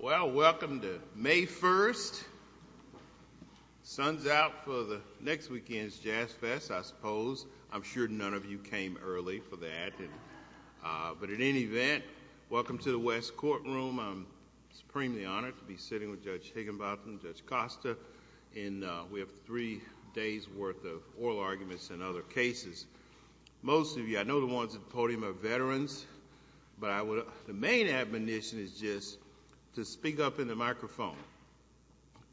Well, welcome to May 1st. Sun's out for the next weekend's Jazz Fest, I suppose. I'm sure none of you came early for that, but in any event, welcome to the West Courtroom. I'm supremely honored to be sitting with Judge Higginbotham and Judge Costa, and we have three days worth of oral arguments and other cases. Most of you, I know the ones at the podium are veterans, but the main admonition is just to speak up in the microphone.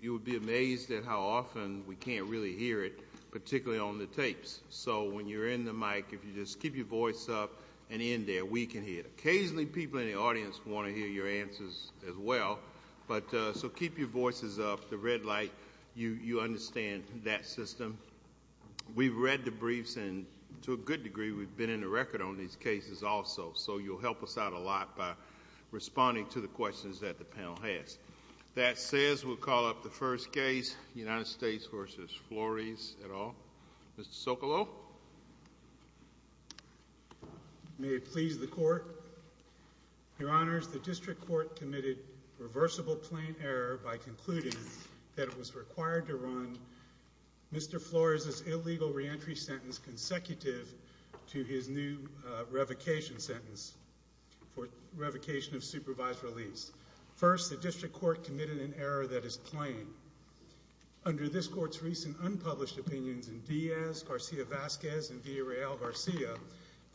You would be amazed at how often we can't really hear it, particularly on the tapes, so when you're in the mic, if you just keep your voice up and in there, we can hear it. Occasionally, people in the audience want to hear your answers as well, so keep your voices up, the red light, you understand that system. We've read the briefs, and to a good degree, we've been in the record on these cases also, so you'll help us out a lot by responding to the questions that the panel has. That says we'll call up the first case, United States v. Flores, et al. Mr. Socolow? May it please the Court, Your Honors, the District Court committed reversible plain error by concluding that it was required to run Mr. Flores's illegal reentry sentence consecutive to his new revocation sentence for revocation of supervised release. First, the District Court committed an error that is plain. Under this Court's recent unpublished opinions in Diaz, Garcia-Vasquez, and Villareal-Garcia,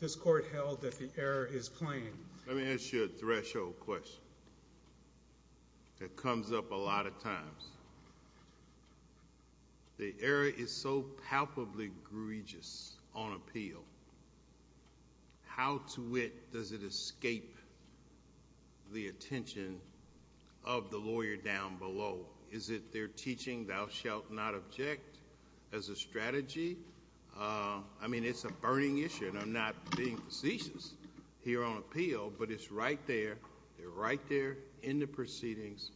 this Court held that the error is plain. Let me ask you a threshold question that comes up a lot of times. First, the error is so palpably egregious on appeal, how to wit does it escape the attention of the lawyer down below? Is it their teaching, thou shalt not object, as a strategy? I mean, it's a burning issue, and I'm not being facetious here on appeal, but it's right there. They're right there in the proceedings.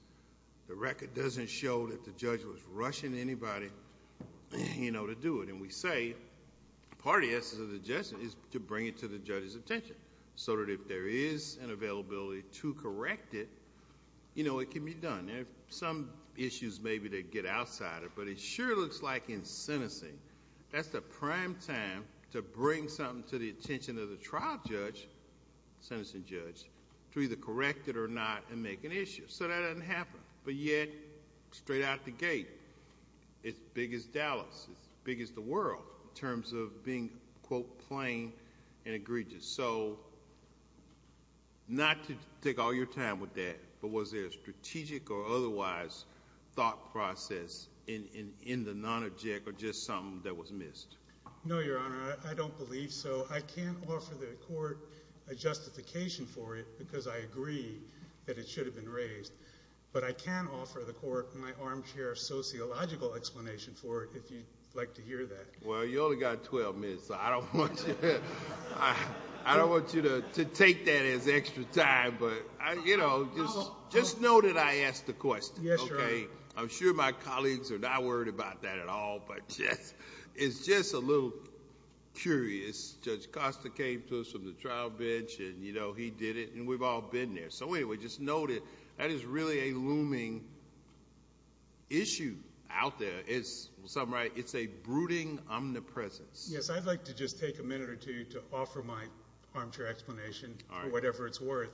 The record doesn't show that the judge was rushing anybody to do it, and we say part of the essence of the judgment is to bring it to the judge's attention, so that if there is an availability to correct it, it can be done. There are some issues maybe that get outside of it, but it sure looks like in sentencing, that's the prime time to bring something to the attention of the trial judge, sentencing judge, to either correct it or not and make an issue. That doesn't happen, but yet, straight out the gate, as big as Dallas, as big as the world, in terms of being, quote, plain and egregious. Not to take all your time with that, but was there a strategic or otherwise thought process in the non-object, or just something that was missed? No, your honor. I don't believe so. I can't offer the court a justification for it, because I agree that it should have been raised, but I can offer the court my armchair sociological explanation for it, if you'd like to hear that. Well, you only got 12 minutes, so I don't want you to take that as extra time, but just know that I asked the question, okay? I'm sure my colleagues are not a little curious. Judge Costa came to us from the trial bench, and he did it, and we've all been there. Anyway, just know that that is really a looming issue out there. It's a brooding omnipresence. Yes, I'd like to just take a minute or two to offer my armchair explanation for whatever it's worth.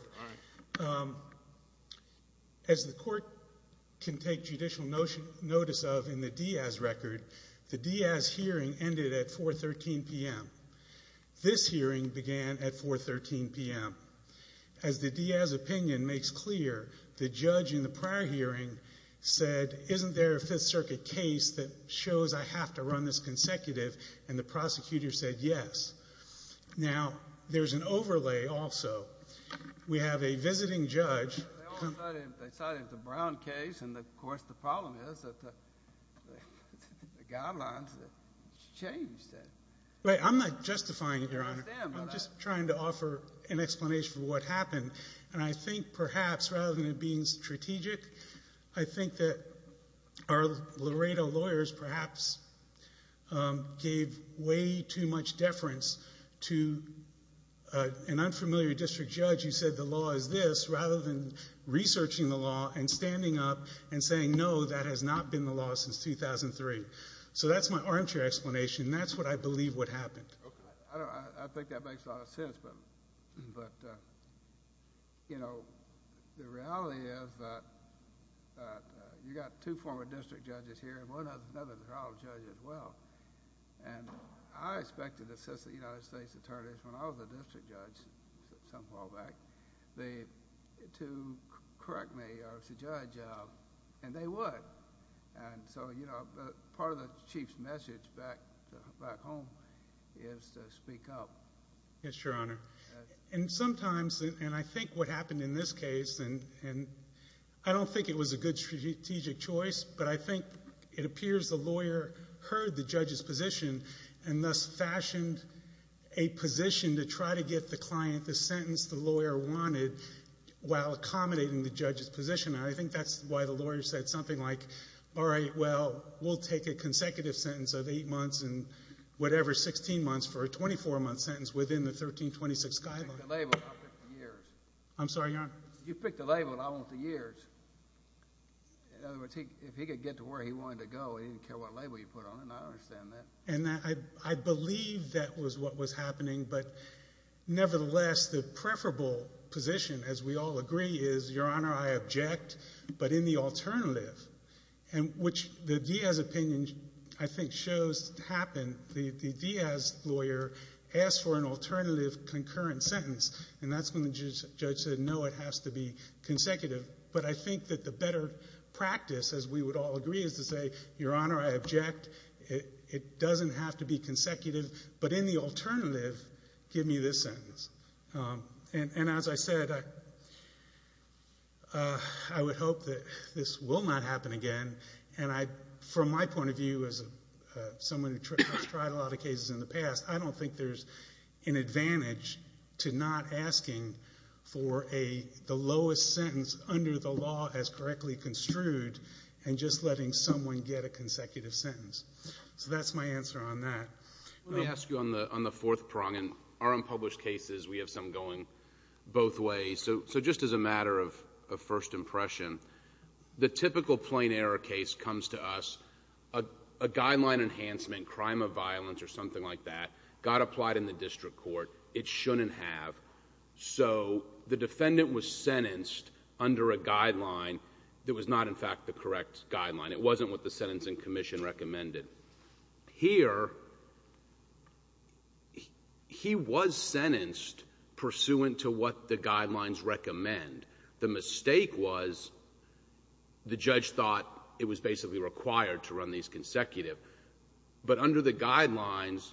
As the court can take judicial notice of in the Diaz record, the Diaz hearing ended at 4 13 p.m. This hearing began at 4 13 p.m. As the Diaz opinion makes clear, the judge in the prior hearing said, isn't there a Fifth Circuit case that shows I have to run this consecutive, and the prosecutor said yes. Now, there's an overlay also. We have a visiting judge. They cited the Brown case, and of course the problem is that the guidelines changed. Right. I'm not justifying it, Your Honor. I'm just trying to offer an explanation for what happened, and I think perhaps rather than it being strategic, I think that our Laredo lawyers perhaps gave way too much deference to an unfamiliar district judge who said the law is this rather than researching the law and standing up and saying, no, that has not been the law since 2003. So that's my armchair explanation, and that's what I believe what happened. I think that makes a lot of sense, but, you know, the reality is that you've got two former district judges here, and one of them is a trial judge as well, and I expected to assist the United States Attorneys when I was a district judge some time back to correct me as a judge, and they would, and so, you know, part of the Chief's message back home is to speak up. Yes, Your Honor, and sometimes, and I think what happened in this case, and I don't think it was a good strategic choice, but I think it appears the lawyer heard the judge's position and thus fashioned a position to try to get the client the sentence the lawyer wanted while accommodating the judge's position. I think that's why the lawyer said something like, all right, well, we'll take a consecutive sentence of eight months and whatever, 16 months for a 24-month sentence within the 1326 guideline. I'm sorry, Your Honor. You picked a label, and I want the years. In other words, if he could get to where he wanted to go, he didn't care what label you put on it, and I understand that. And I believe that was what was happening, but nevertheless, the preferable position, as we all agree, is, Your Honor, I object, but in the alternative, and which the Diaz opinion, I think, shows happened. The Diaz lawyer asked for an alternative concurrent sentence, and that's when the judge said, no, it has to be I object. It doesn't have to be consecutive, but in the alternative, give me this sentence. And as I said, I would hope that this will not happen again, and from my point of view, as someone who has tried a lot of cases in the past, I don't think there's an advantage to not asking for the lowest sentence under the law as correctly construed and just letting someone get a consecutive sentence. So that's my answer on that. Let me ask you on the fourth prong, and our unpublished cases, we have some going both ways. So just as a matter of first impression, the typical plain error case comes to us, a guideline enhancement, crime of violence or something like that, got applied in the district court. It shouldn't have. So the defendant was sentenced under a guideline that was not, in fact, the correct guideline. It wasn't what the sentencing commission recommended. Here, he was sentenced pursuant to what the guidelines recommend. The mistake was, the judge thought it was basically required to run these consecutive. But under the guidelines,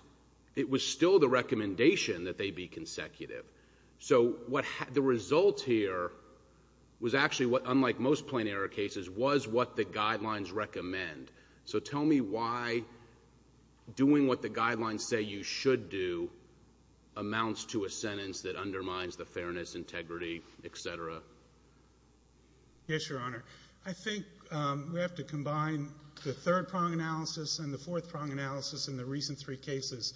it was still the recommendation that they be consecutive. So the result here was actually, unlike most plain error cases, was what the guidelines recommend. So tell me why doing what the guidelines say you should do amounts to a sentence that undermines the fairness, integrity, et cetera. Yes, Your Honor. I think we have to combine the third prong analysis and the fourth prong analysis in the recent three cases.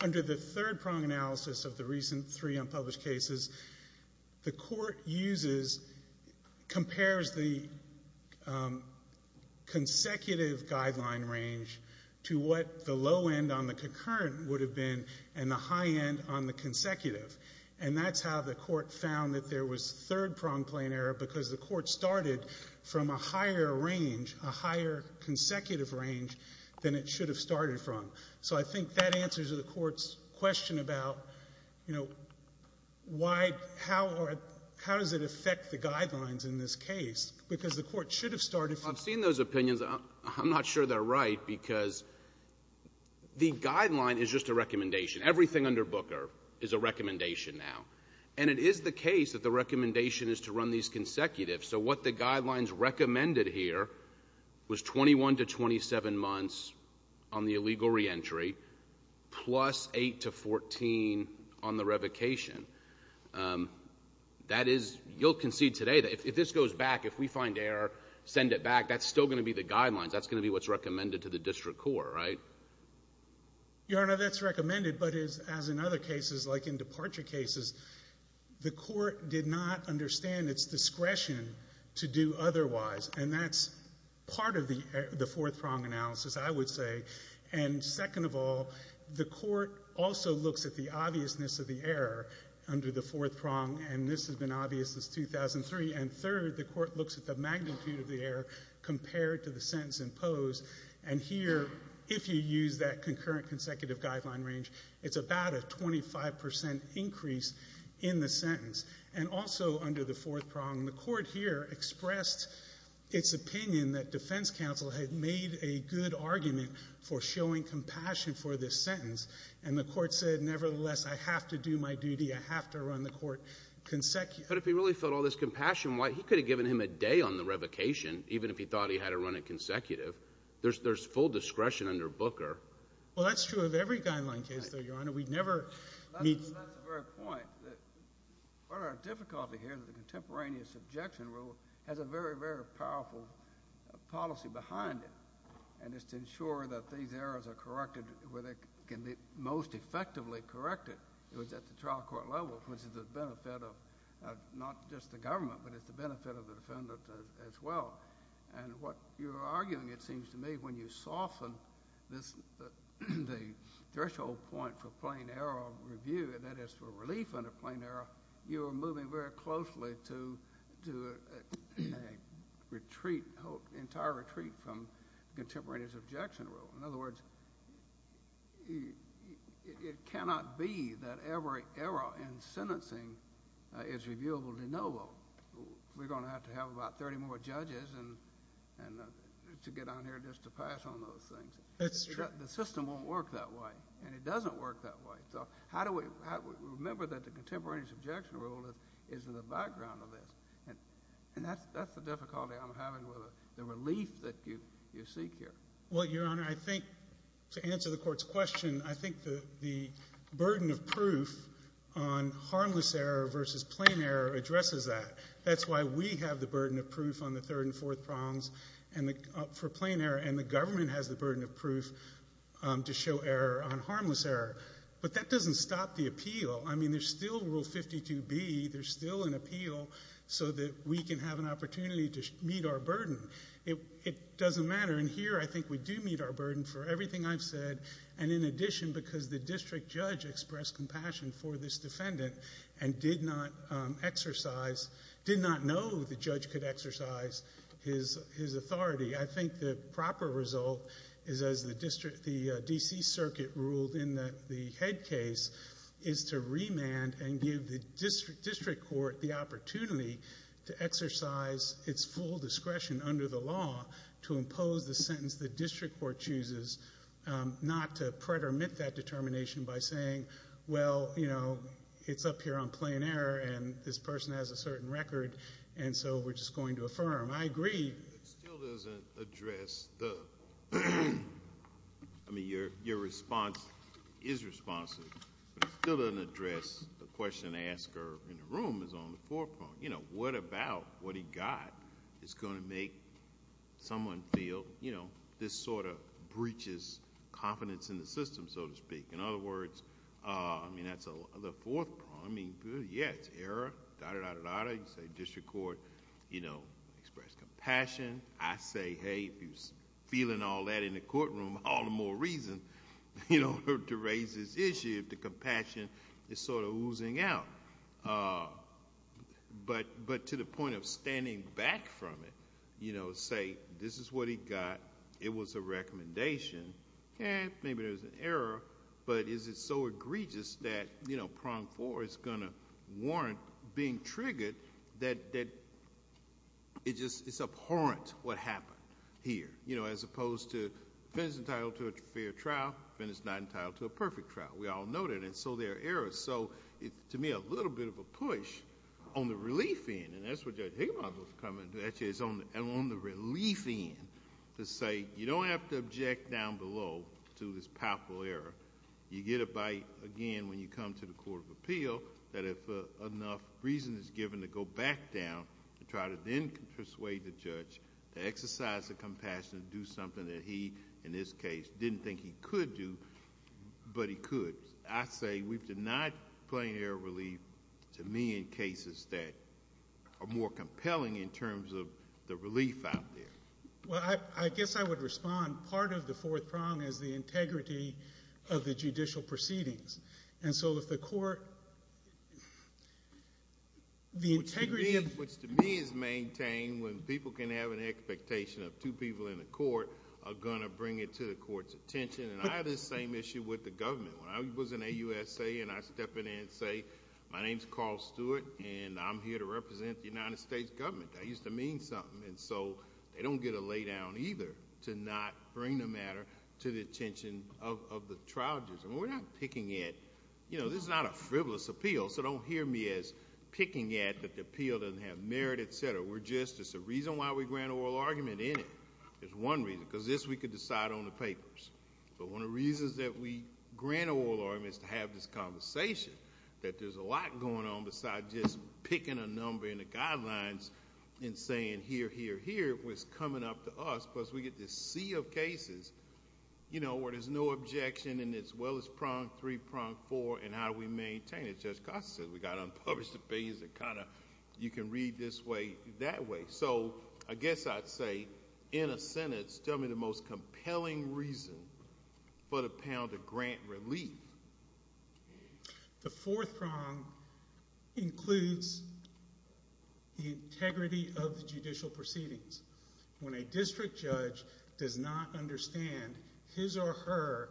Under the third prong analysis of the recent three unpublished cases, the court compares the consecutive guideline range to what the low end on the concurrent would have been and the high end on the consecutive. And that's how the court found that there was third prong plain error, because the court started from a higher range, a higher So I think that answers the court's question about, you know, how does it affect the guidelines in this case? Because the court should have started from... I've seen those opinions. I'm not sure they're right, because the guideline is just a recommendation. Everything under Booker is a recommendation now. And it is the case that the recommendation is to run these consecutive. So what the guidelines recommended here was 21 to 27 months on the illegal reentry, plus 8 to 14 on the revocation. That is, you'll concede today that if this goes back, if we find error, send it back, that's still going to be the guidelines. That's going to be what's recommended to the district court, right? Your Honor, that's recommended. But as in other cases, like in departure cases, the court did not understand its discretion to do otherwise. And that's part of the fourth prong analysis, I would say. And second of all, the court also looks at the obviousness of the error under the fourth prong. And this has been obvious since 2003. And third, the court looks at the magnitude of the error compared to the sentence imposed. And here, if you use that concurrent consecutive guideline range, it's about a 25 percent increase in the sentence. And also under the fourth prong, the court here expressed its opinion that defense counsel had made a good argument for showing compassion for this sentence. And the court said, nevertheless, I have to do my duty. I have to run the court consecutive. But if he really felt all this compassion, why, he could have given him a day on the revocation, even if he thought he had to run it consecutive. There's full discretion under Booker. Well, that's true of every guideline case, though, Your Honor. We never meet. That's the very point. What our difficulty here is the contemporaneous objection rule has a very, very powerful policy behind it. And it's to ensure that these errors are corrected where they can be most effectively corrected, which is at the trial court level, which is the benefit of not just the government, but it's the benefit of the defendant as well. And what you're arguing, it seems to me, when you soften the threshold point for plain error review, that is for relief under plain error, you are moving very closely to a retreat, entire retreat from contemporaneous objection rule. In other words, it cannot be that every error in sentencing is reviewable de novo. We're going to have to have about 30 more judges to get on here just to pass on those things. That's true. The system won't work that way, and it doesn't work that way. So how do we remember that the contemporaneous objection rule is in the background of this? And that's the difficulty I'm having with the relief that you seek here. Well, Your Honor, I think to answer the Court's question, I think the burden of proof on harmless error versus plain error addresses that. That's why we have the burden of proof on the third and fourth prongs for plain error, and the government has the burden of proof to show error on harmless error. But that doesn't stop the appeal. I mean, there's still Rule 52B. There's still an appeal so that we can have an opportunity to meet our burden. It doesn't matter. And here, I think we do meet our burden for everything I've said, and in addition, because the district judge expressed compassion for this defendant and did not know the judge could exercise his authority. I think the proper result is, as the D.C. Circuit ruled in the head case, is to remand and give the district court the opportunity to exercise its full discretion under the law to impose the sentence the district court chooses, not to pretermit that determination by saying, well, you know, it's up here on plain error, and this person has a certain record, and so we're just going to affirm. I agree. It still doesn't address the—I mean, your response is responsive, but it still doesn't address the question the asker in the room is on the someone feel, you know, this sort of breaches confidence in the system, so to speak. In other words, I mean, that's the fourth part. I mean, yeah, it's error, da-da-da-da-da. You say district court, you know, expressed compassion. I say, hey, if you're feeling all that in the courtroom, all the more reason, you know, to raise this issue if the compassion is sort of oozing out. But to the point of standing back from it, you know, say this is what he got, it was a recommendation, eh, maybe there's an error, but is it so egregious that, you know, prong four is going to warrant being triggered that it's abhorrent what happened here, you know, as opposed to defendant's entitled to a fair trial, defendant's not entitled to a perfect trial. We need to be a little bit of a push on the relief end, and that's what Judge Higginbotham was coming to, actually, is on the relief end to say you don't have to object down below to this powerful error. You get a bite again when you come to the court of appeal that if enough reason is given to go back down and try to then persuade the judge to exercise the compassion to do something that he, in this case, didn't think he could do, but he could. I say we've denied plain error relief to me in cases that are more compelling in terms of the relief out there. Well, I guess I would respond, part of the fourth prong is the integrity of the judicial proceedings. And so, if the court, the integrity, which to me is maintained when people can have an expectation of two people in the court, are going to bring it to the court's attention. And I have this same issue with the government. When I was in AUSA and I step in and say, my name's Carl Stewart, and I'm here to represent the United States government, that used to mean something. And so, they don't get a lay down either to not bring the matter to the attention of the trial judges. And we're not picking at, you know, this is not a frivolous appeal, so don't hear me as picking at that the appeal doesn't have merit, et cetera. We're just, it's a reason why we grant oral argument in it, is one reason. Because this we could decide on the papers. But one of the reasons that we grant oral argument is to have this conversation, that there's a lot going on besides just picking a number in the guidelines and saying, here, here, here, what's coming up to us. Because we get this sea of cases, you know, where there's no objection and it's well as pronged, three pronged, four, and how do we maintain it? Judge Costa said, we got unpublished opinions that kind of, you can read this way, that way. So, I guess I'd say, in a sentence, tell me the most compelling reason for the panel to grant relief. The fourth prong includes the integrity of the judicial proceedings. When a district judge does not understand his or her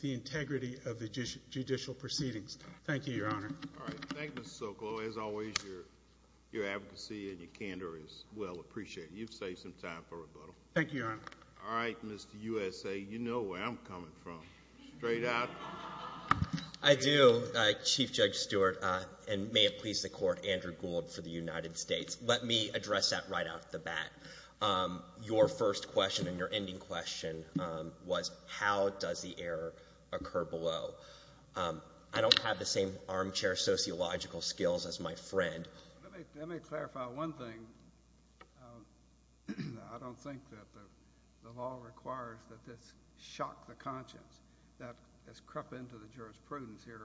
the integrity of the judicial proceedings. Thank you, Your Honor. All right. Thank you, Mr. Sokolow. As always, your advocacy and your candor is well appreciated. You've saved some time for rebuttal. Thank you, Your Honor. All right, Mr. USA, you know where I'm coming from. Straight out. I do. Chief Judge Stewart, and may it please the Court, Andrew Gould for the United States. Let me address that right off the bat. Your first question and your ending question was, how does the error occur below? I don't have the same armchair sociological skills as my friend. Let me clarify one thing. I don't think that the law requires that this shock the conscience. That has crept into the jurisprudence here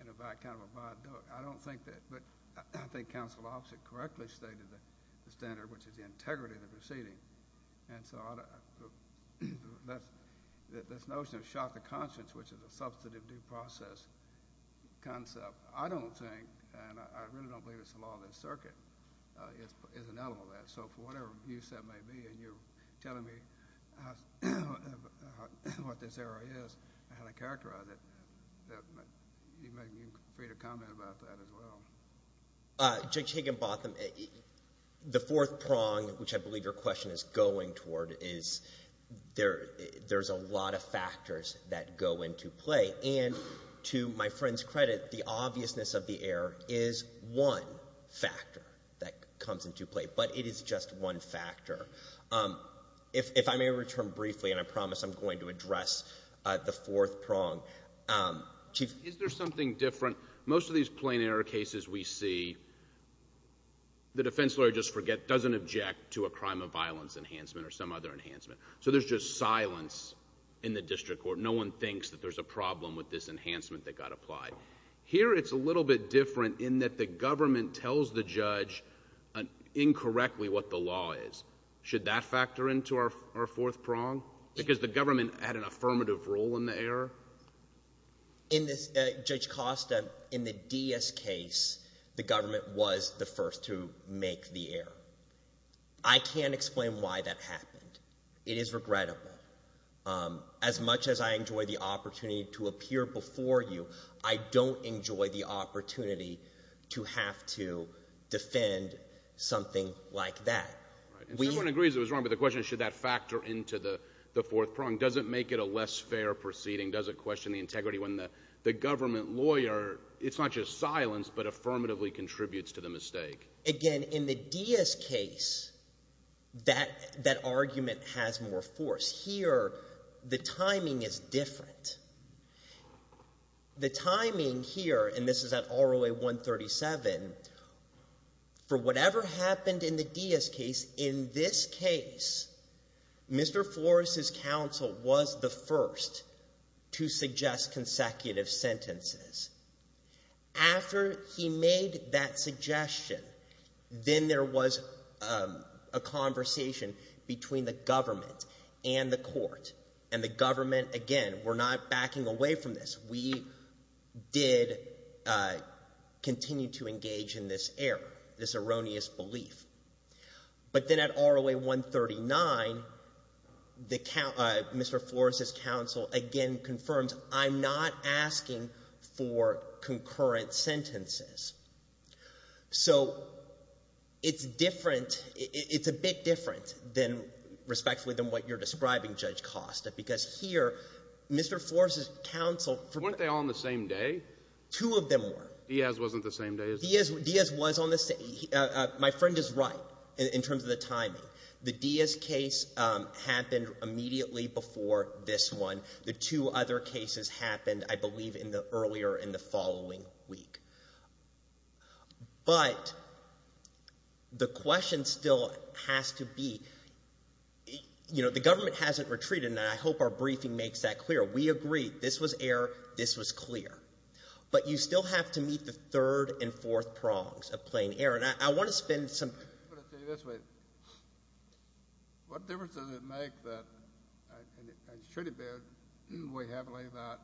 in a kind of a viaduct. I don't think that, but I think Counsel Offit correctly stated the standard, which is the integrity of the proceeding. And so this notion of shock the conscience, which is a substantive due process concept, I don't think, and I really don't believe it's the law of the circuit, is an element of that. So for whatever use that may be, and you're telling me what this error is and how to characterize it, you're free to comment about that as well. Judge Higginbotham, the fourth prong, which I believe your question is going toward, is there's a lot of factors that go into play. And to my friend's credit, the obviousness of the error is one factor that comes into play, but it is just one factor. If I may return briefly, and I promise I'm going to address the fourth prong. Chief... Is there something different? Most of these plain error cases we see, the defense lawyer doesn't object to a crime of violence enhancement or some other enhancement. So there's just silence in the district court. No one thinks that there's a problem with this enhancement that got applied. Here it's a little bit different in that the government tells the judge incorrectly what the law is. Should that factor into our fourth prong? Because the government had an affirmative role in the error? In Judge Costa, in the Diaz case, the government was the first to make the error. I can't explain why that happened. It is regrettable. As much as I enjoy the opportunity to appear before you, I don't enjoy the opportunity to have to defend something like that. Someone agrees it was wrong, but the question is should that factor into the fourth prong? Does it make it a less fair proceeding? Does it question the integrity when the government lawyer, it's not just silence, but affirmatively contributes to the mistake? Again, in the Diaz case, that argument has more force. Here, the timing is different. The timing here, and this was the first to suggest consecutive sentences. After he made that suggestion, then there was a conversation between the government and the court. And the government, again, we're not backing away from this. We did continue to engage in this error, this erroneous belief. But then at ROA 139, Mr. Flores' counsel again confirms, I'm not asking for concurrent sentences. So, it's different, it's a bit different than, respectfully, than what you're describing, Judge Costa. Because here, Mr. Flores' counsel... Weren't they all on the same day? Two of them were. Diaz wasn't the same day as... Diaz was on the same... My friend is right, in terms of the timing. The Diaz case happened immediately before this one. The two other cases happened, I believe, in the earlier, in the following week. But the question still has to be, you know, the government hasn't retreated, and I hope our briefing makes that clear. We agree, this was error, this was clear. But you still have to meet the third and fourth prongs of plain error. And I want to spend some... I'm going to put it to you this way. What difference does it make that, and should it be weighed heavily about,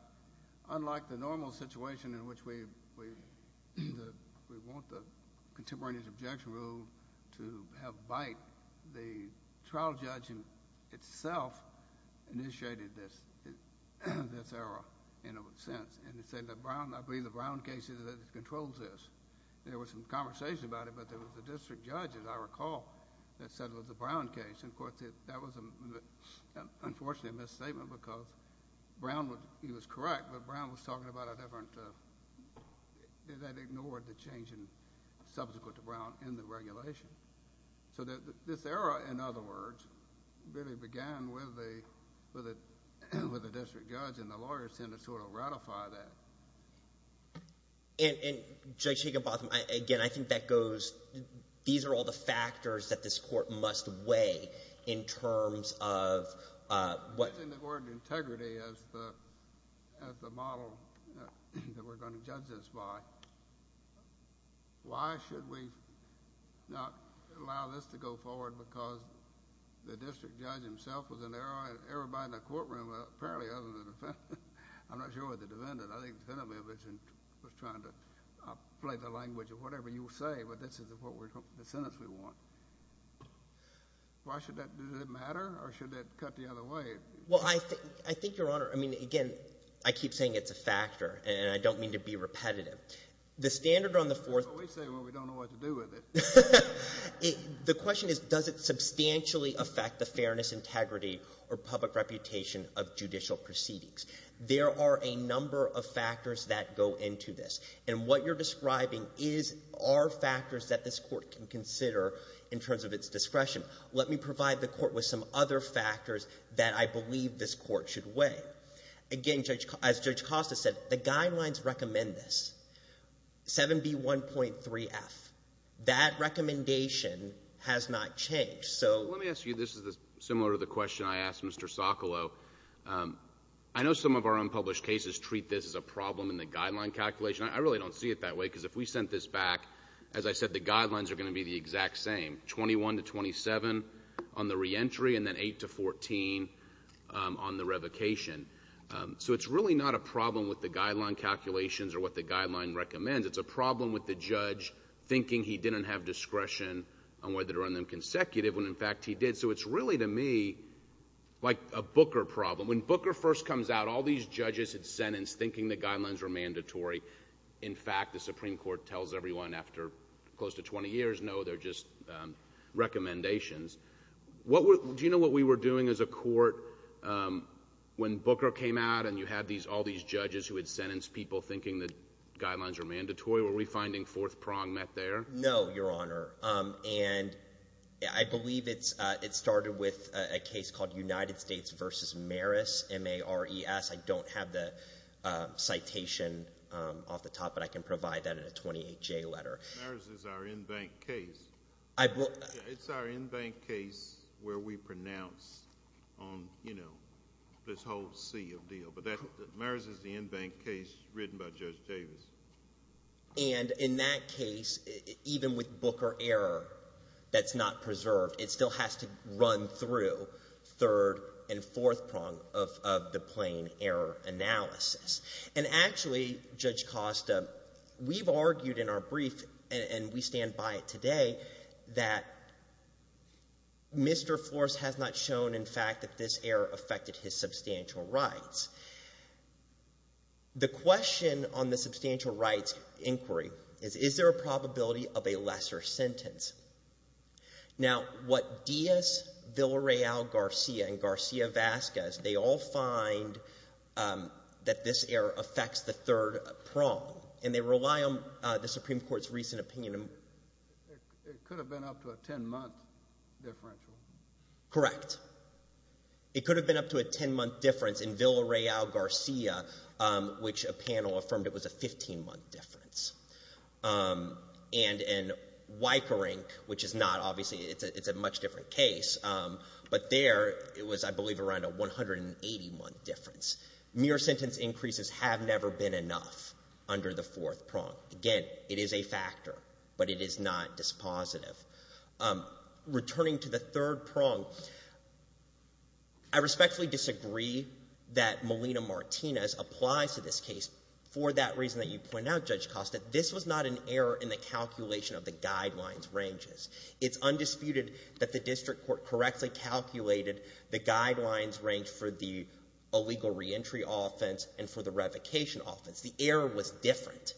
unlike the normal situation in which we want the contemporaneous objection rule to have bite, the trial judge itself initiated this error, in a sense. And it said that Brown, I believe the Brown case is that it controls this. There was some conversation about it, but there was a district judge, as I recall, that said it was a Brown case. And of course, that was unfortunately a misstatement, because Brown would... He was correct, but Brown was talking about a different... That ignored the change in... Subsequent to Brown in the regulation. So this error, in other words, really began with the district judge and the lawyer sent to sort of ratify that. And Judge Higginbotham, again, I think that goes, these are all the factors that this court must weigh in terms of what... It's in the word integrity as the model that we're going to judge this by. Why should we not allow this to go forward, because the district judge himself was an error, an error by the courtroom, apparently, other than the defendant. I'm not sure with the defendant. I think the defendant was trying to play the language of whatever you say, but this is the sentence we want. Why should that... Does it matter, or should that cut the other way? Well, I think, Your Honor, I mean, again, I keep saying it's a factor, and I don't mean to be standard on the fourth... We say it when we don't know what to do with it. The question is, does it substantially affect the fairness, integrity, or public reputation of judicial proceedings? There are a number of factors that go into this. And what you're describing are factors that this court can consider in terms of its discretion. Let me provide the court with some other factors that I believe this court should weigh. Again, as Judge Costa said, the guidelines recommend this, 7B1.3F. That recommendation has not changed. Let me ask you, this is similar to the question I asked Mr. Socolow. I know some of our unpublished cases treat this as a problem in the guideline calculation. I really don't see it that way, because if we sent this back, as I said, the guidelines are going to be the exact same, 21 to 27 on the reentry, and then 8 to 14 on the revocation. So it's really not a problem with the guideline calculations or what the guideline recommends. It's a problem with the judge thinking he didn't have discretion on whether to run them consecutive when, in fact, he did. So it's really, to me, like a Booker problem. When Booker first comes out, all these judges had sentenced thinking the guidelines were mandatory. In fact, the Supreme Court tells everyone after close to 20 years, no, they're just recommendations. Do you know what we were doing as a court when Booker came out and you had all these judges who had sentenced people thinking the guidelines were mandatory? Were we finding fourth prong met there? No, Your Honor. And I believe it started with a case called United States v. Maris, M-A-R-I-S. I don't have the letter. Maris is our in-bank case. It's our in-bank case where we pronounce on, you know, this whole seal deal. But Maris is the in-bank case written by Judge Davis. And in that case, even with Booker error that's not preserved, it still has to run through third and fourth prong of the plain error analysis. And actually, Judge Costa, we've argued in our brief, and we stand by it today, that Mr. Flores has not shown, in fact, that this error affected his substantial rights. The question on the substantial rights inquiry is, is there a possibility that we all find that this error affects the third prong? And they rely on the Supreme Court's recent opinion. It could have been up to a 10-month differential. Correct. It could have been up to a 10-month difference in Villareal-Garcia, which a panel affirmed it was a 15-month difference. And in Weickerink, which is not, obviously, it's a much different case, but there it was, I believe, around a 180-month difference. Mere sentence increases have never been enough under the fourth prong. Again, it is a factor, but it is not dispositive. Returning to the third prong, I respectfully disagree that Melina Martinez applies to this case for that reason that you point out, Judge Costa. This was not an error in the calculation of the guidelines ranges. It's undisputed that the district court correctly calculated the guidelines range for the illegal reentry offense and for the revocation offense. The error was different.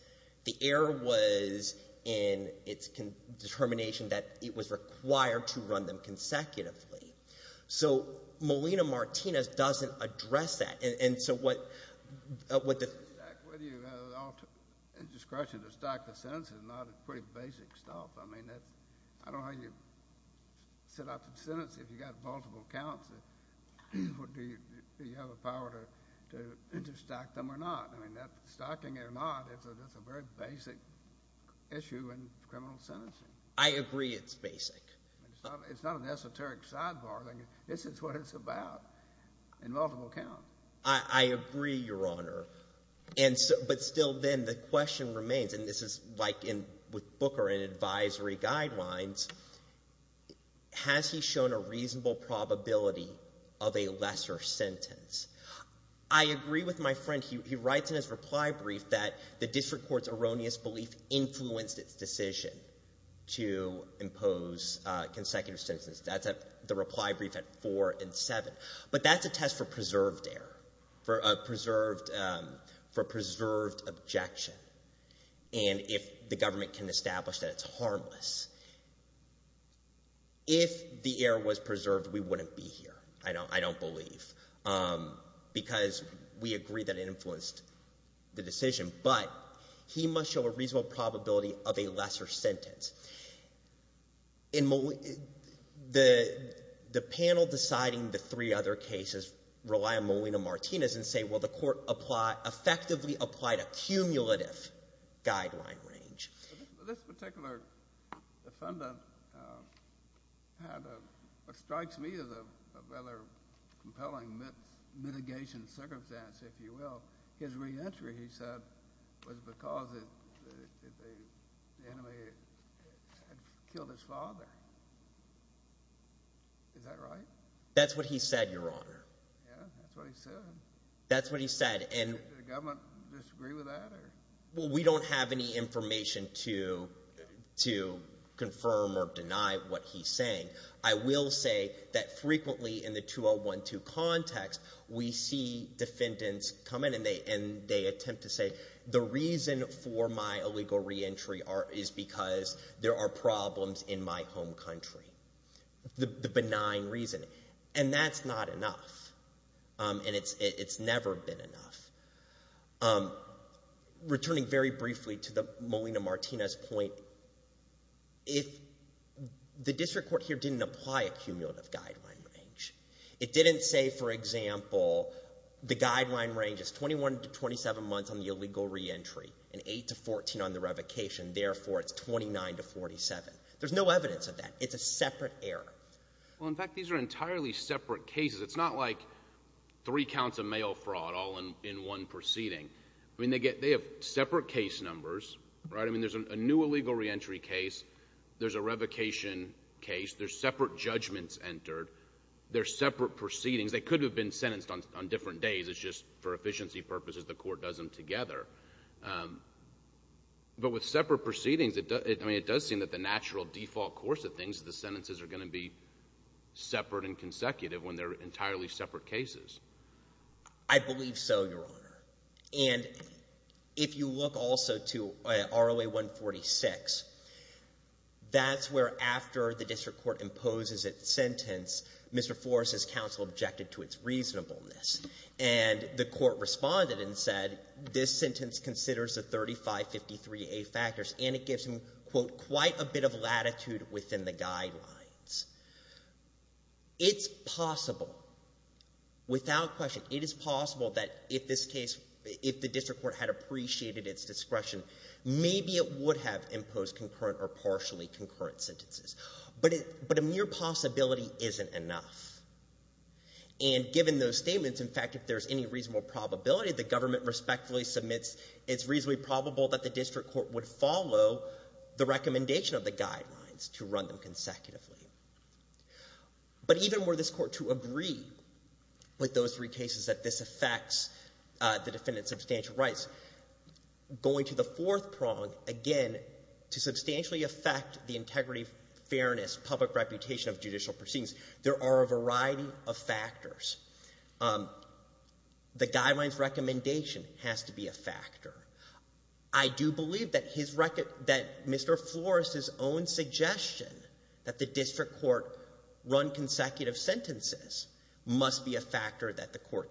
The error was in its determination that it was required to run them consecutively. So Melina Martinez doesn't address that. And so what the— Whether you have discretion to stack the sentences is not pretty basic stuff. I mean, that's—I don't know how you set up a sentence if you've got multiple counts. Do you have the power to stack them or not? I mean, stacking it or not, it's a very basic issue in criminal sentencing. I agree it's basic. It's not an esoteric sidebar. This is what it's about, in multiple counts. I agree, Your Honor. And so—but still then the question remains, and this is like in—with Booker in advisory guidelines, has he shown a reasonable probability of a lesser sentence? I agree with my friend. He writes in his reply brief that the district court's erroneous belief influenced its decision to impose consecutive sentences. That's at—the test for preserved error, for a preserved objection, and if the government can establish that it's harmless. If the error was preserved, we wouldn't be here, I don't believe, because we agree that it influenced the decision. But he must show a reasonable probability of a lesser sentence. In—the panel deciding the three other cases rely on Molina-Martinez and say, well, the court applied—effectively applied a cumulative guideline range. This particular defendant had what strikes me as a rather compelling mitigation circumstance, if you will. His re-entry, he said, was because the enemy had killed his father. Is that right? That's what he said, Your Honor. Yeah, that's what he said. That's what he said, and— Did the government disagree with that, or? Well, we don't have any information to confirm or deny what he's saying. I will say that and they attempt to say the reason for my illegal re-entry is because there are problems in my home country. The benign reason, and that's not enough, and it's never been enough. Returning very briefly to the Molina-Martinez point, if—the district court here didn't apply a cumulative guideline range. It didn't say, for example, the guideline range is 21 to 27 months on the illegal re-entry and 8 to 14 on the revocation, therefore it's 29 to 47. There's no evidence of that. It's a separate error. Well, in fact, these are entirely separate cases. It's not like three counts of mail fraud all in one proceeding. I mean, they get—they have separate case numbers, right? I mean, there's a new illegal re-entry case, there's a revocation case, there's separate judgments entered, there's separate proceedings. They could have been sentenced on different days. It's just for efficiency purposes, the court does them together. But with separate proceedings, it does—I mean, it does seem that the natural default course of things is the sentences are going to be separate and consecutive when they're entirely separate cases. I believe so, Your Honor. And if you look also to ROA 146, that's where after the district court imposes its sentence, Mr. Forrest's counsel objected to its reasonableness. And the court responded and said this sentence considers the 3553A factors and it gives him, quote, quite a bit of latitude within the guidelines. It's possible, without question, it is possible that if this case—if the district court had appreciated its discretion, maybe it would have said that a mere possibility isn't enough. And given those statements, in fact, if there's any reasonable probability the government respectfully submits, it's reasonably probable that the district court would follow the recommendation of the guidelines to run them consecutively. But even were this court to agree with those three cases that this affects the defendant's substantial rights, going to the fourth prong, again, to substantially affect the integrity, fairness, public reputation of judicial proceedings, there are a variety of factors. The guidelines recommendation has to be a factor. I do believe that Mr. Forrest's own suggestion that the district court run consecutive sentences must be a factor that the court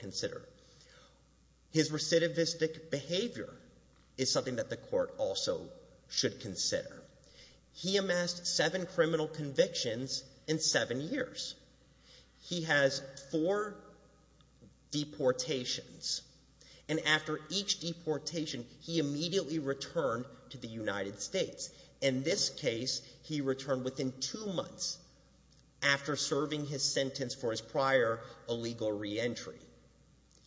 should consider. He amassed seven criminal convictions in seven years. He has four deportations. And after each deportation, he immediately returned to the United States. In this case, he returned within two months after serving his sentence for his prior illegal reentry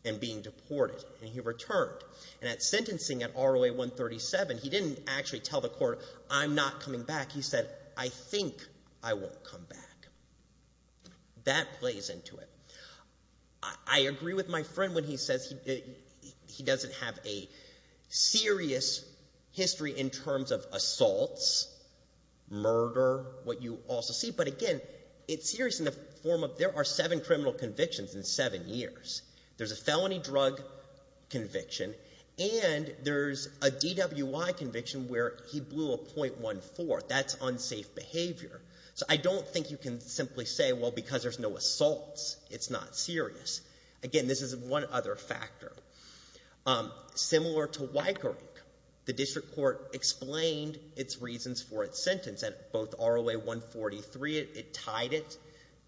and being deported. And he returned. And at sentencing at ROA 137, he didn't actually tell the court, I'm not coming back. He said, I think I won't come back. That plays into it. I agree with my friend when he says he doesn't have a serious history in terms of assaults, murder, what you also see. But again, it's serious in the form of there are seven convictions in seven years. There's a felony drug conviction. And there's a DWI conviction where he blew a .14. That's unsafe behavior. So I don't think you can simply say, well, because there's no assaults, it's not serious. Again, this is one other factor. Similar to Weickerink, the district court explained its reasons for its sentence at both ROA 143. It tied it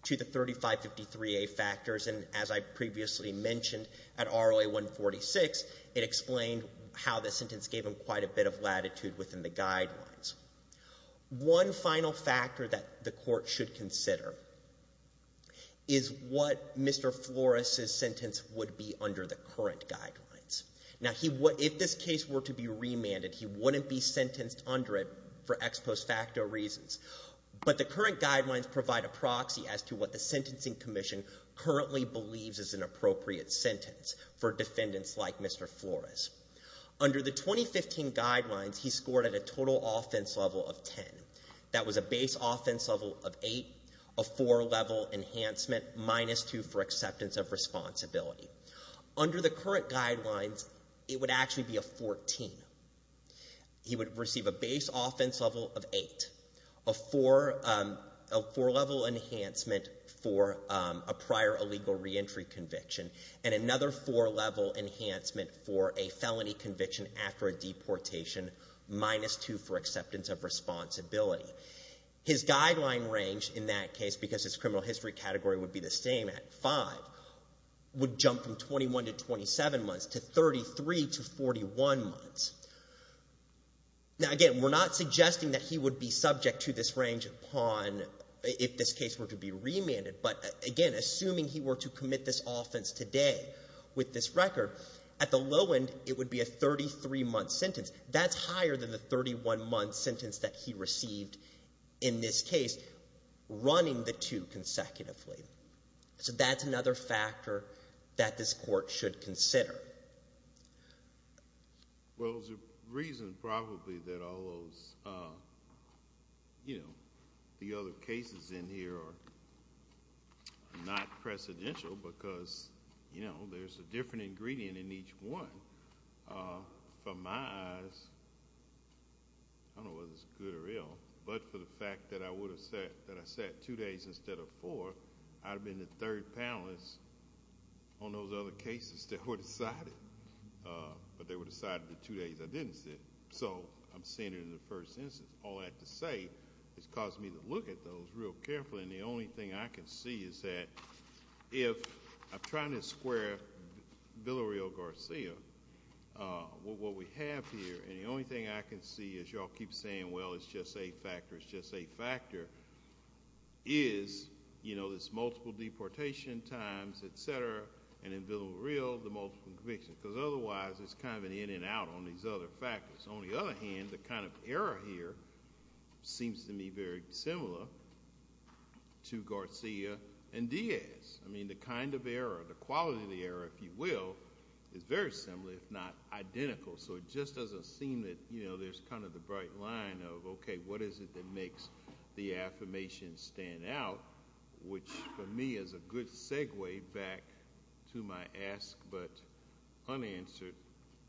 to the 3553A factors. And as I previously mentioned, at ROA 146, it explained how the sentence gave him quite a bit of latitude within the guidelines. One final factor that the court should consider is what Mr. Flores' sentence would be under the current guidelines. Now, if this case were to be remanded, he wouldn't be sentenced under it for ex post facto reasons. But the current guidelines provide a proxy as to what the Sentencing Commission currently believes is an appropriate sentence for defendants like Mr. Flores. Under the 2015 guidelines, he scored at a total offense level of 10. That was a base offense level of 8, a 4-level enhancement, minus 2 for acceptance of He would receive a base offense level of 8, a 4-level enhancement for a prior illegal reentry conviction, and another 4-level enhancement for a felony conviction after a deportation, minus 2 for acceptance of responsibility. His guideline range in that case, because his criminal history category would be the same at 5, would jump from 21 to 27 months to 33 to 41 months. Now, again, we're not suggesting that he would be subject to this range upon, if this case were to be remanded, but again, assuming he were to commit this offense today with this record, at the low end, it would be a 33-month sentence. That's higher than the 31-month sentence that he received in this case, running the two consecutively. So that's another factor that this court should consider. Well, there's a reason probably that all those, you know, the other cases in here are not precedential because, you know, there's a different ingredient in each one. From my eyes, I don't know whether it's good or ill, but for the fact that I would have said that I sat two days instead of four, I would have been the third panelist on those other cases that were decided, but they were decided the two days I didn't sit. So I'm seeing it in the first instance. All I have to say is it caused me to look at those real carefully, and the only thing I can see is that if I'm trying to square Villareal-Garcia with what we have here, and the only thing I can see is y'all keep saying, well, it's just a factor, it's just a factor, is, you know, there's multiple deportation times, etc., and in Villareal, the multiple convictions, because otherwise it's kind of an in and out on these other factors. On the other hand, the kind of error here seems to me very similar to Garcia and Diaz. I mean, the kind of error, the quality of the error, if you will, is very similar, if not identical. So it just doesn't seem that, you know, there's kind of the bright line of, okay, what is it that makes the affirmation stand out, which for me is a good segue back to my ask but unanswered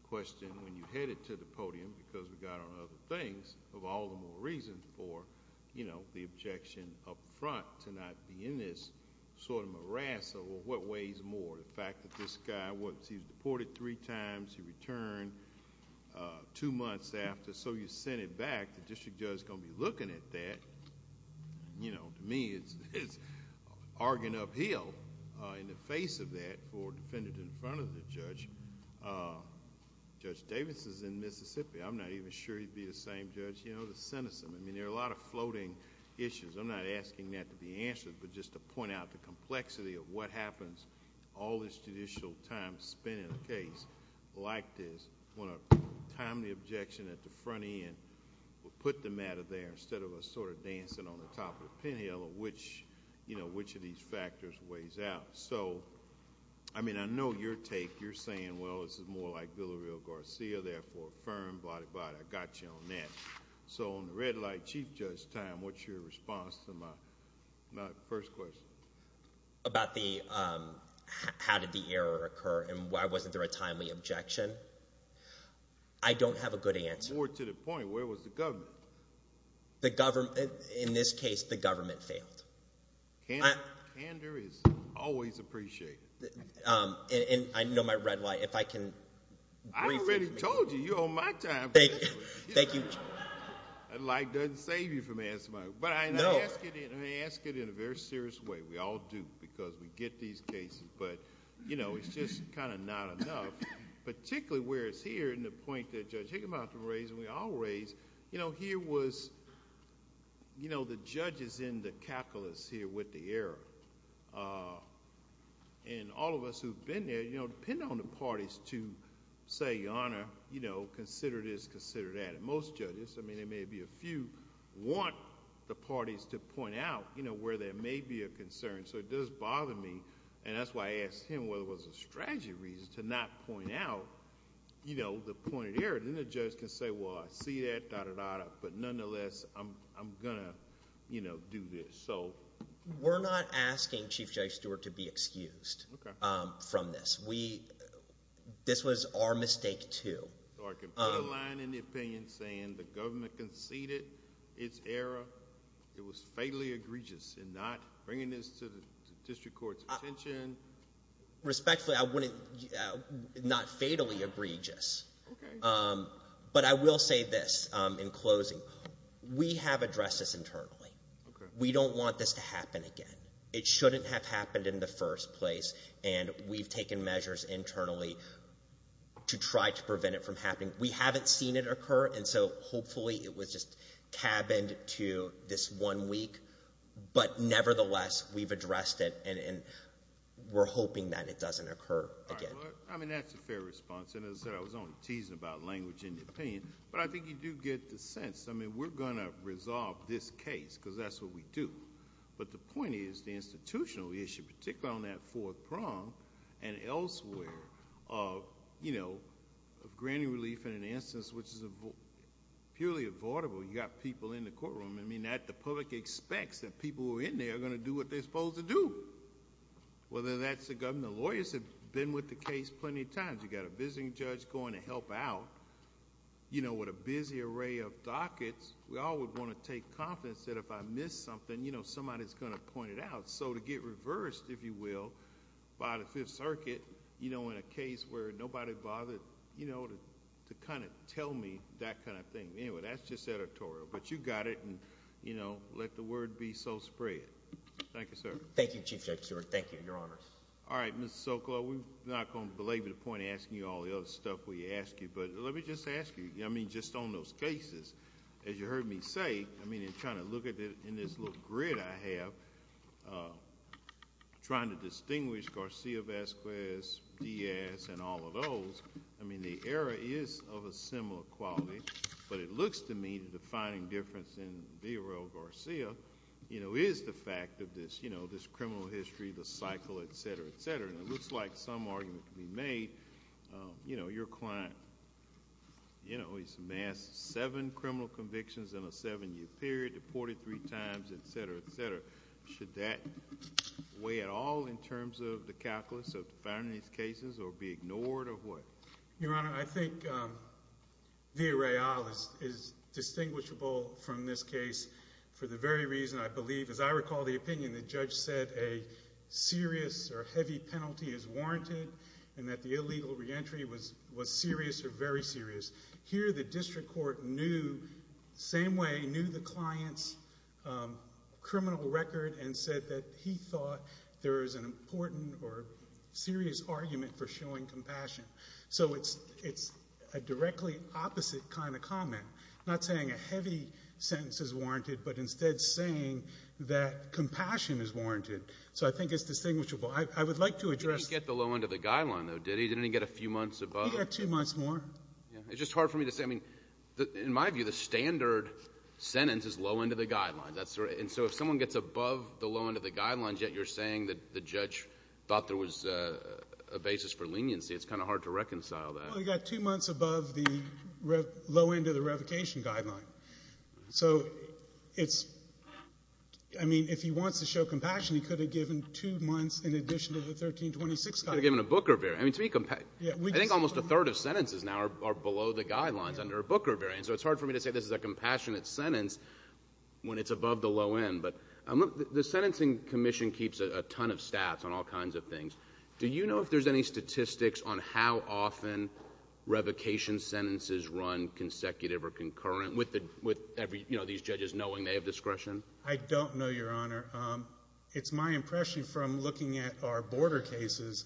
question when you headed to the podium, because we got on other things, of all the more reasons for, you know, the objection up front to not be in this sort of morass of, well, what weighs more, the fact that this guy, what, he's deported three times, he returned two months after, so you sent it back. The district judge is going to be looking at that. You know, to me, it's arguing uphill in the face of that for a defendant in front of the judge. Judge Davis is in Mississippi. I'm not even sure he'd be the same judge, you know, to sentence him. I mean, there are a lot of floating issues. I'm not asking that to be answered, but just to point out the complexity of what happens all this judicial time spent in a case like this when a timely objection at the front end will put the matter there instead of us sort of dancing on the top of the pinheel of which, you know, which of these factors weighs out. So, I mean, I know your take. You're saying, well, this is more like Villareal-Garcia, therefore, affirm, blah, blah, I got you on that. So on the red light, Chief Judge time, what's your response to my first question? About the how did the error occur and why wasn't there a timely objection? I don't have a good answer. More to the point, where was the government? The government, in this case, the government failed. Candor is always appreciated. And I know my red light, if I can. I already told you, you're on my time. Thank you. Thank you. A light doesn't save you from answering my question. But I ask it in a very serious way. We all do because we get these cases. But, you know, it's just kind of not enough, particularly where it's here and the point that Judge Higginbotham raised and we all raised, you know, here was, you know, the judge is in the calculus here with the error. And all of us who've been there, you know, depend on the parties to say, Your Honor, you know, consider this, consider that. And most judges, I mean, there may be a few, want the parties to point out, you know, where there may be a concern. So it does bother me. And that's why I asked him whether it was a strategy reason to not point out, you know, the point of error. Then the judge can say, Well, I see that, da, da, da, da, but nonetheless, I'm gonna, you know, do this. So... We're not asking Chief Judge Stewart to be excused from this. We... This was our mistake, too. So I can put a line in the opinion saying the government conceded its error. It was fatally egregious in not bringing this to the district court's attention. Respectfully, I wouldn't... not fatally egregious. But I will say this in closing. We have addressed this internally. We don't want this to happen again. It shouldn't have happened in the first place. And we've taken measures internally to try to prevent it from happening. We haven't seen it occur, and so hopefully it was just cabined to this one week. But nevertheless, we've addressed it, and we're hoping that it doesn't occur again. I mean, that's a fair response. And as I said, I was only teasing about language in the opinion. But I think you do get the sense. I mean, we're gonna resolve this case, because that's what we do. But the point is the institutional issue, particularly on that fourth prong and elsewhere, of granting relief in an instance which is purely avoidable. You've got people in the courtroom. I mean, the public expects that people who are in there are gonna do what they're supposed to do, whether that's the governor. Lawyers have been with the case plenty of times. You've got a visiting judge going to help out with a busy array of dockets. We all would want to take confidence that if I miss something, you know, somebody's gonna point it out. So to get reversed, if you will, by the Fifth Circuit, you know, in a case where nobody bothered, you know, to kind of tell me that kind of thing. Anyway, that's just editorial. But you got it, and you know, let the word be so spread. Thank you, sir. Thank you, Chief Judge Stewart. Thank you, Your Honors. All right, Mr. Sokolo, we're not gonna belabor the point of asking you all the other stuff we asked you. But let me just ask you, I mean, just on those cases, as you heard me say, I mean, in trying to look at it in this little grid I have, trying to distinguish Garcia, Vasquez, Diaz, and all of those, I mean, the error is of a similar quality. But it looks to me the defining difference in Villarreal Garcia, you know, is the fact of this, you know, this criminal history, the cycle, et cetera, et cetera. And it looks like some argument can be made, you know, your client, you know, he's amassed seven criminal convictions in a seven-year period, deported three times, et cetera, et cetera. Should that weigh at all in terms of the calculus of defining these cases or be ignored or what? Your Honor, I think Villarreal is distinguishable from this case for the very reason I believe, as I recall the opinion, the judge said a serious or heavy penalty is warranted and that the illegal reentry was serious or very serious. Here the district court knew, same way, knew the client's criminal record and said that he thought there is an important or serious argument for showing compassion. So it's a directly opposite kind of comment, not saying a heavy sentence is warranted, but instead saying that compassion is warranted. So I think it's distinguishable. I would like to address the low end of the guideline, though, did he? Didn't he get a few months above? He got two months more. It's just hard for me to say. I mean, in my view, the standard sentence is low end of the guideline. And so if someone gets above the low end of the guidelines, yet you're saying that the judge thought there was a basis for leniency, it's kind of hard to reconcile that. Well, he got two months above the low end of the revocation guideline. So it's, I mean, if he wants to show compassion, he could have given two months in addition to the 1326. Could have given a Booker variant. I mean, to me, I think almost a third of sentences now are below the guidelines under a Booker variant. So it's hard for me to say this is a compassionate sentence when it's above the low end. But the Sentencing Commission keeps a ton of stats on all kinds of things. Do you know if there's any statistics on how often revocation sentences run consecutive or concurrent with every, you know, these judges knowing they have discretion? I don't know, Your Honor. It's my impression from looking at our border cases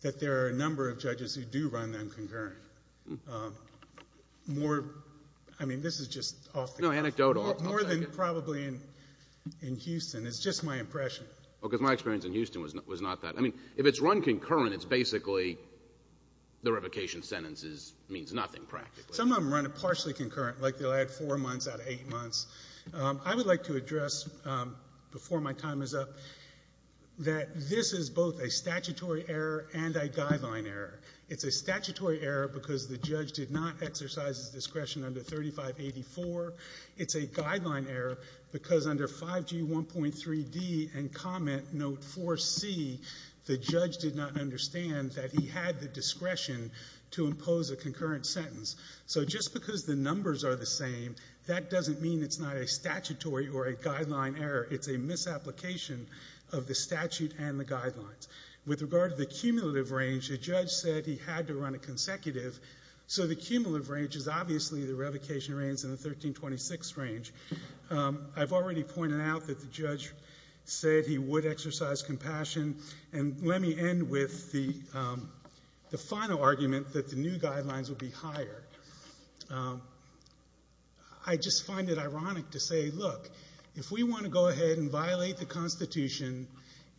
that there are a number of judges who do run them concurrent. More, I mean, this is just off the cuff. No, anecdotal. More than probably in Houston. It's just my impression. Well, because my experience in Houston was not that. I mean, if it's run concurrent, it's basically the revocation sentences means nothing practically. Some of them run it partially concurrent, like they'll add four months out of eight months. I would like to address, before my time is up, that this is both a statutory error and a guideline error. It's a statutory error because the judge did not exercise his discretion under 3584. It's a guideline error because under 5G 1.3D and Comment Note 4C, the judge did not understand that he had the discretion to impose a concurrent sentence. So just because the numbers are the same, that doesn't mean it's not a statutory or a guideline error. It's a misapplication of the statute and the guidelines. With regard to the cumulative range, the judge said he had to run it consecutive. So the cumulative range is obviously the revocation range and the 1326 range. I've already pointed out that the judge said he would exercise compassion. And let me end with the final argument that the new guidelines will be higher. I just find it ironic to say, look, if we want to go ahead and violate the Constitution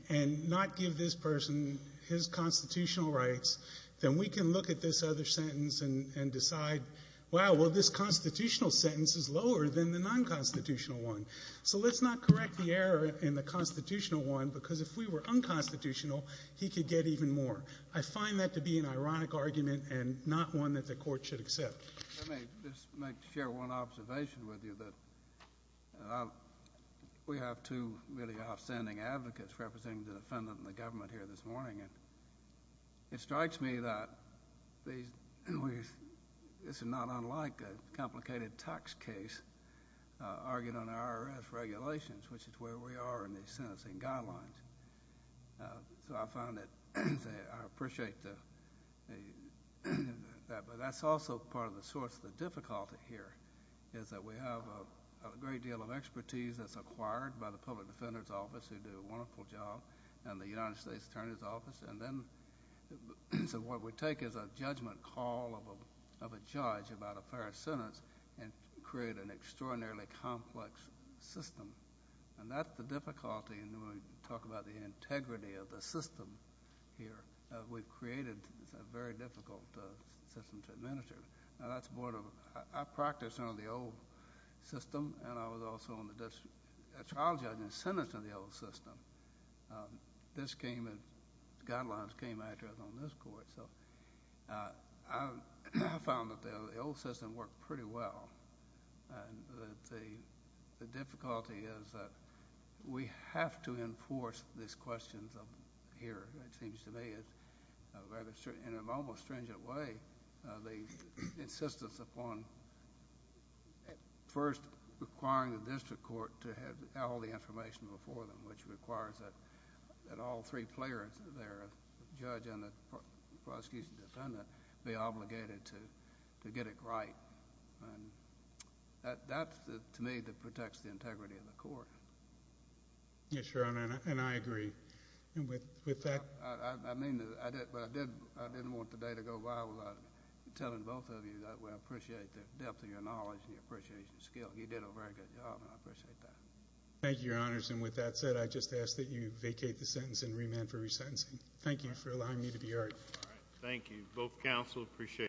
and not give this person his constitutional rights, then we can look at this other sentence and decide, wow, well, this constitutional sentence is lower than the non-constitutional one. So let's not correct the error in the constitutional one because if we were unconstitutional, he could get even more. I find that to be an ironic argument and not one that the court should accept. Let me just share one observation with you. We have two really outstanding advocates representing the defendant and the government here this morning. It strikes me that this is not unlike a complicated tax case argued under IRS regulations, which is where we are in these cases. But also part of the source of the difficulty here is that we have a great deal of expertise that's acquired by the Public Defender's Office, who do a wonderful job, and the United States Attorney's Office. And then so what we take is a judgment call of a judge about a fair sentence and create an extraordinarily complex system. And that's the difficulty. And when we talk about the I practiced under the old system, and I was also a trial judge and sentenced under the old system. This came and guidelines came after I was on this court. So I found that the old system worked pretty well. And the difficulty is that we have to enforce these questions here. It seems to me that in an almost stringent way, the insistence upon first requiring the district court to have all the information before them, which requires that that all three players, the judge and the prosecution defendant, be obligated to get it right. And that's to me that protects the integrity of the court. Yes, Your Honor, and I agree. And with that, I mean, I didn't want the day to go by without telling both of you that we appreciate the depth of your knowledge and your appreciation of skill. You did a very good job, and I appreciate that. Thank you, Your Honors. And with that said, I just ask that you vacate the sentence and remand for resentencing. Thank you for allowing me to be here. Thank you. Both counsel appreciate.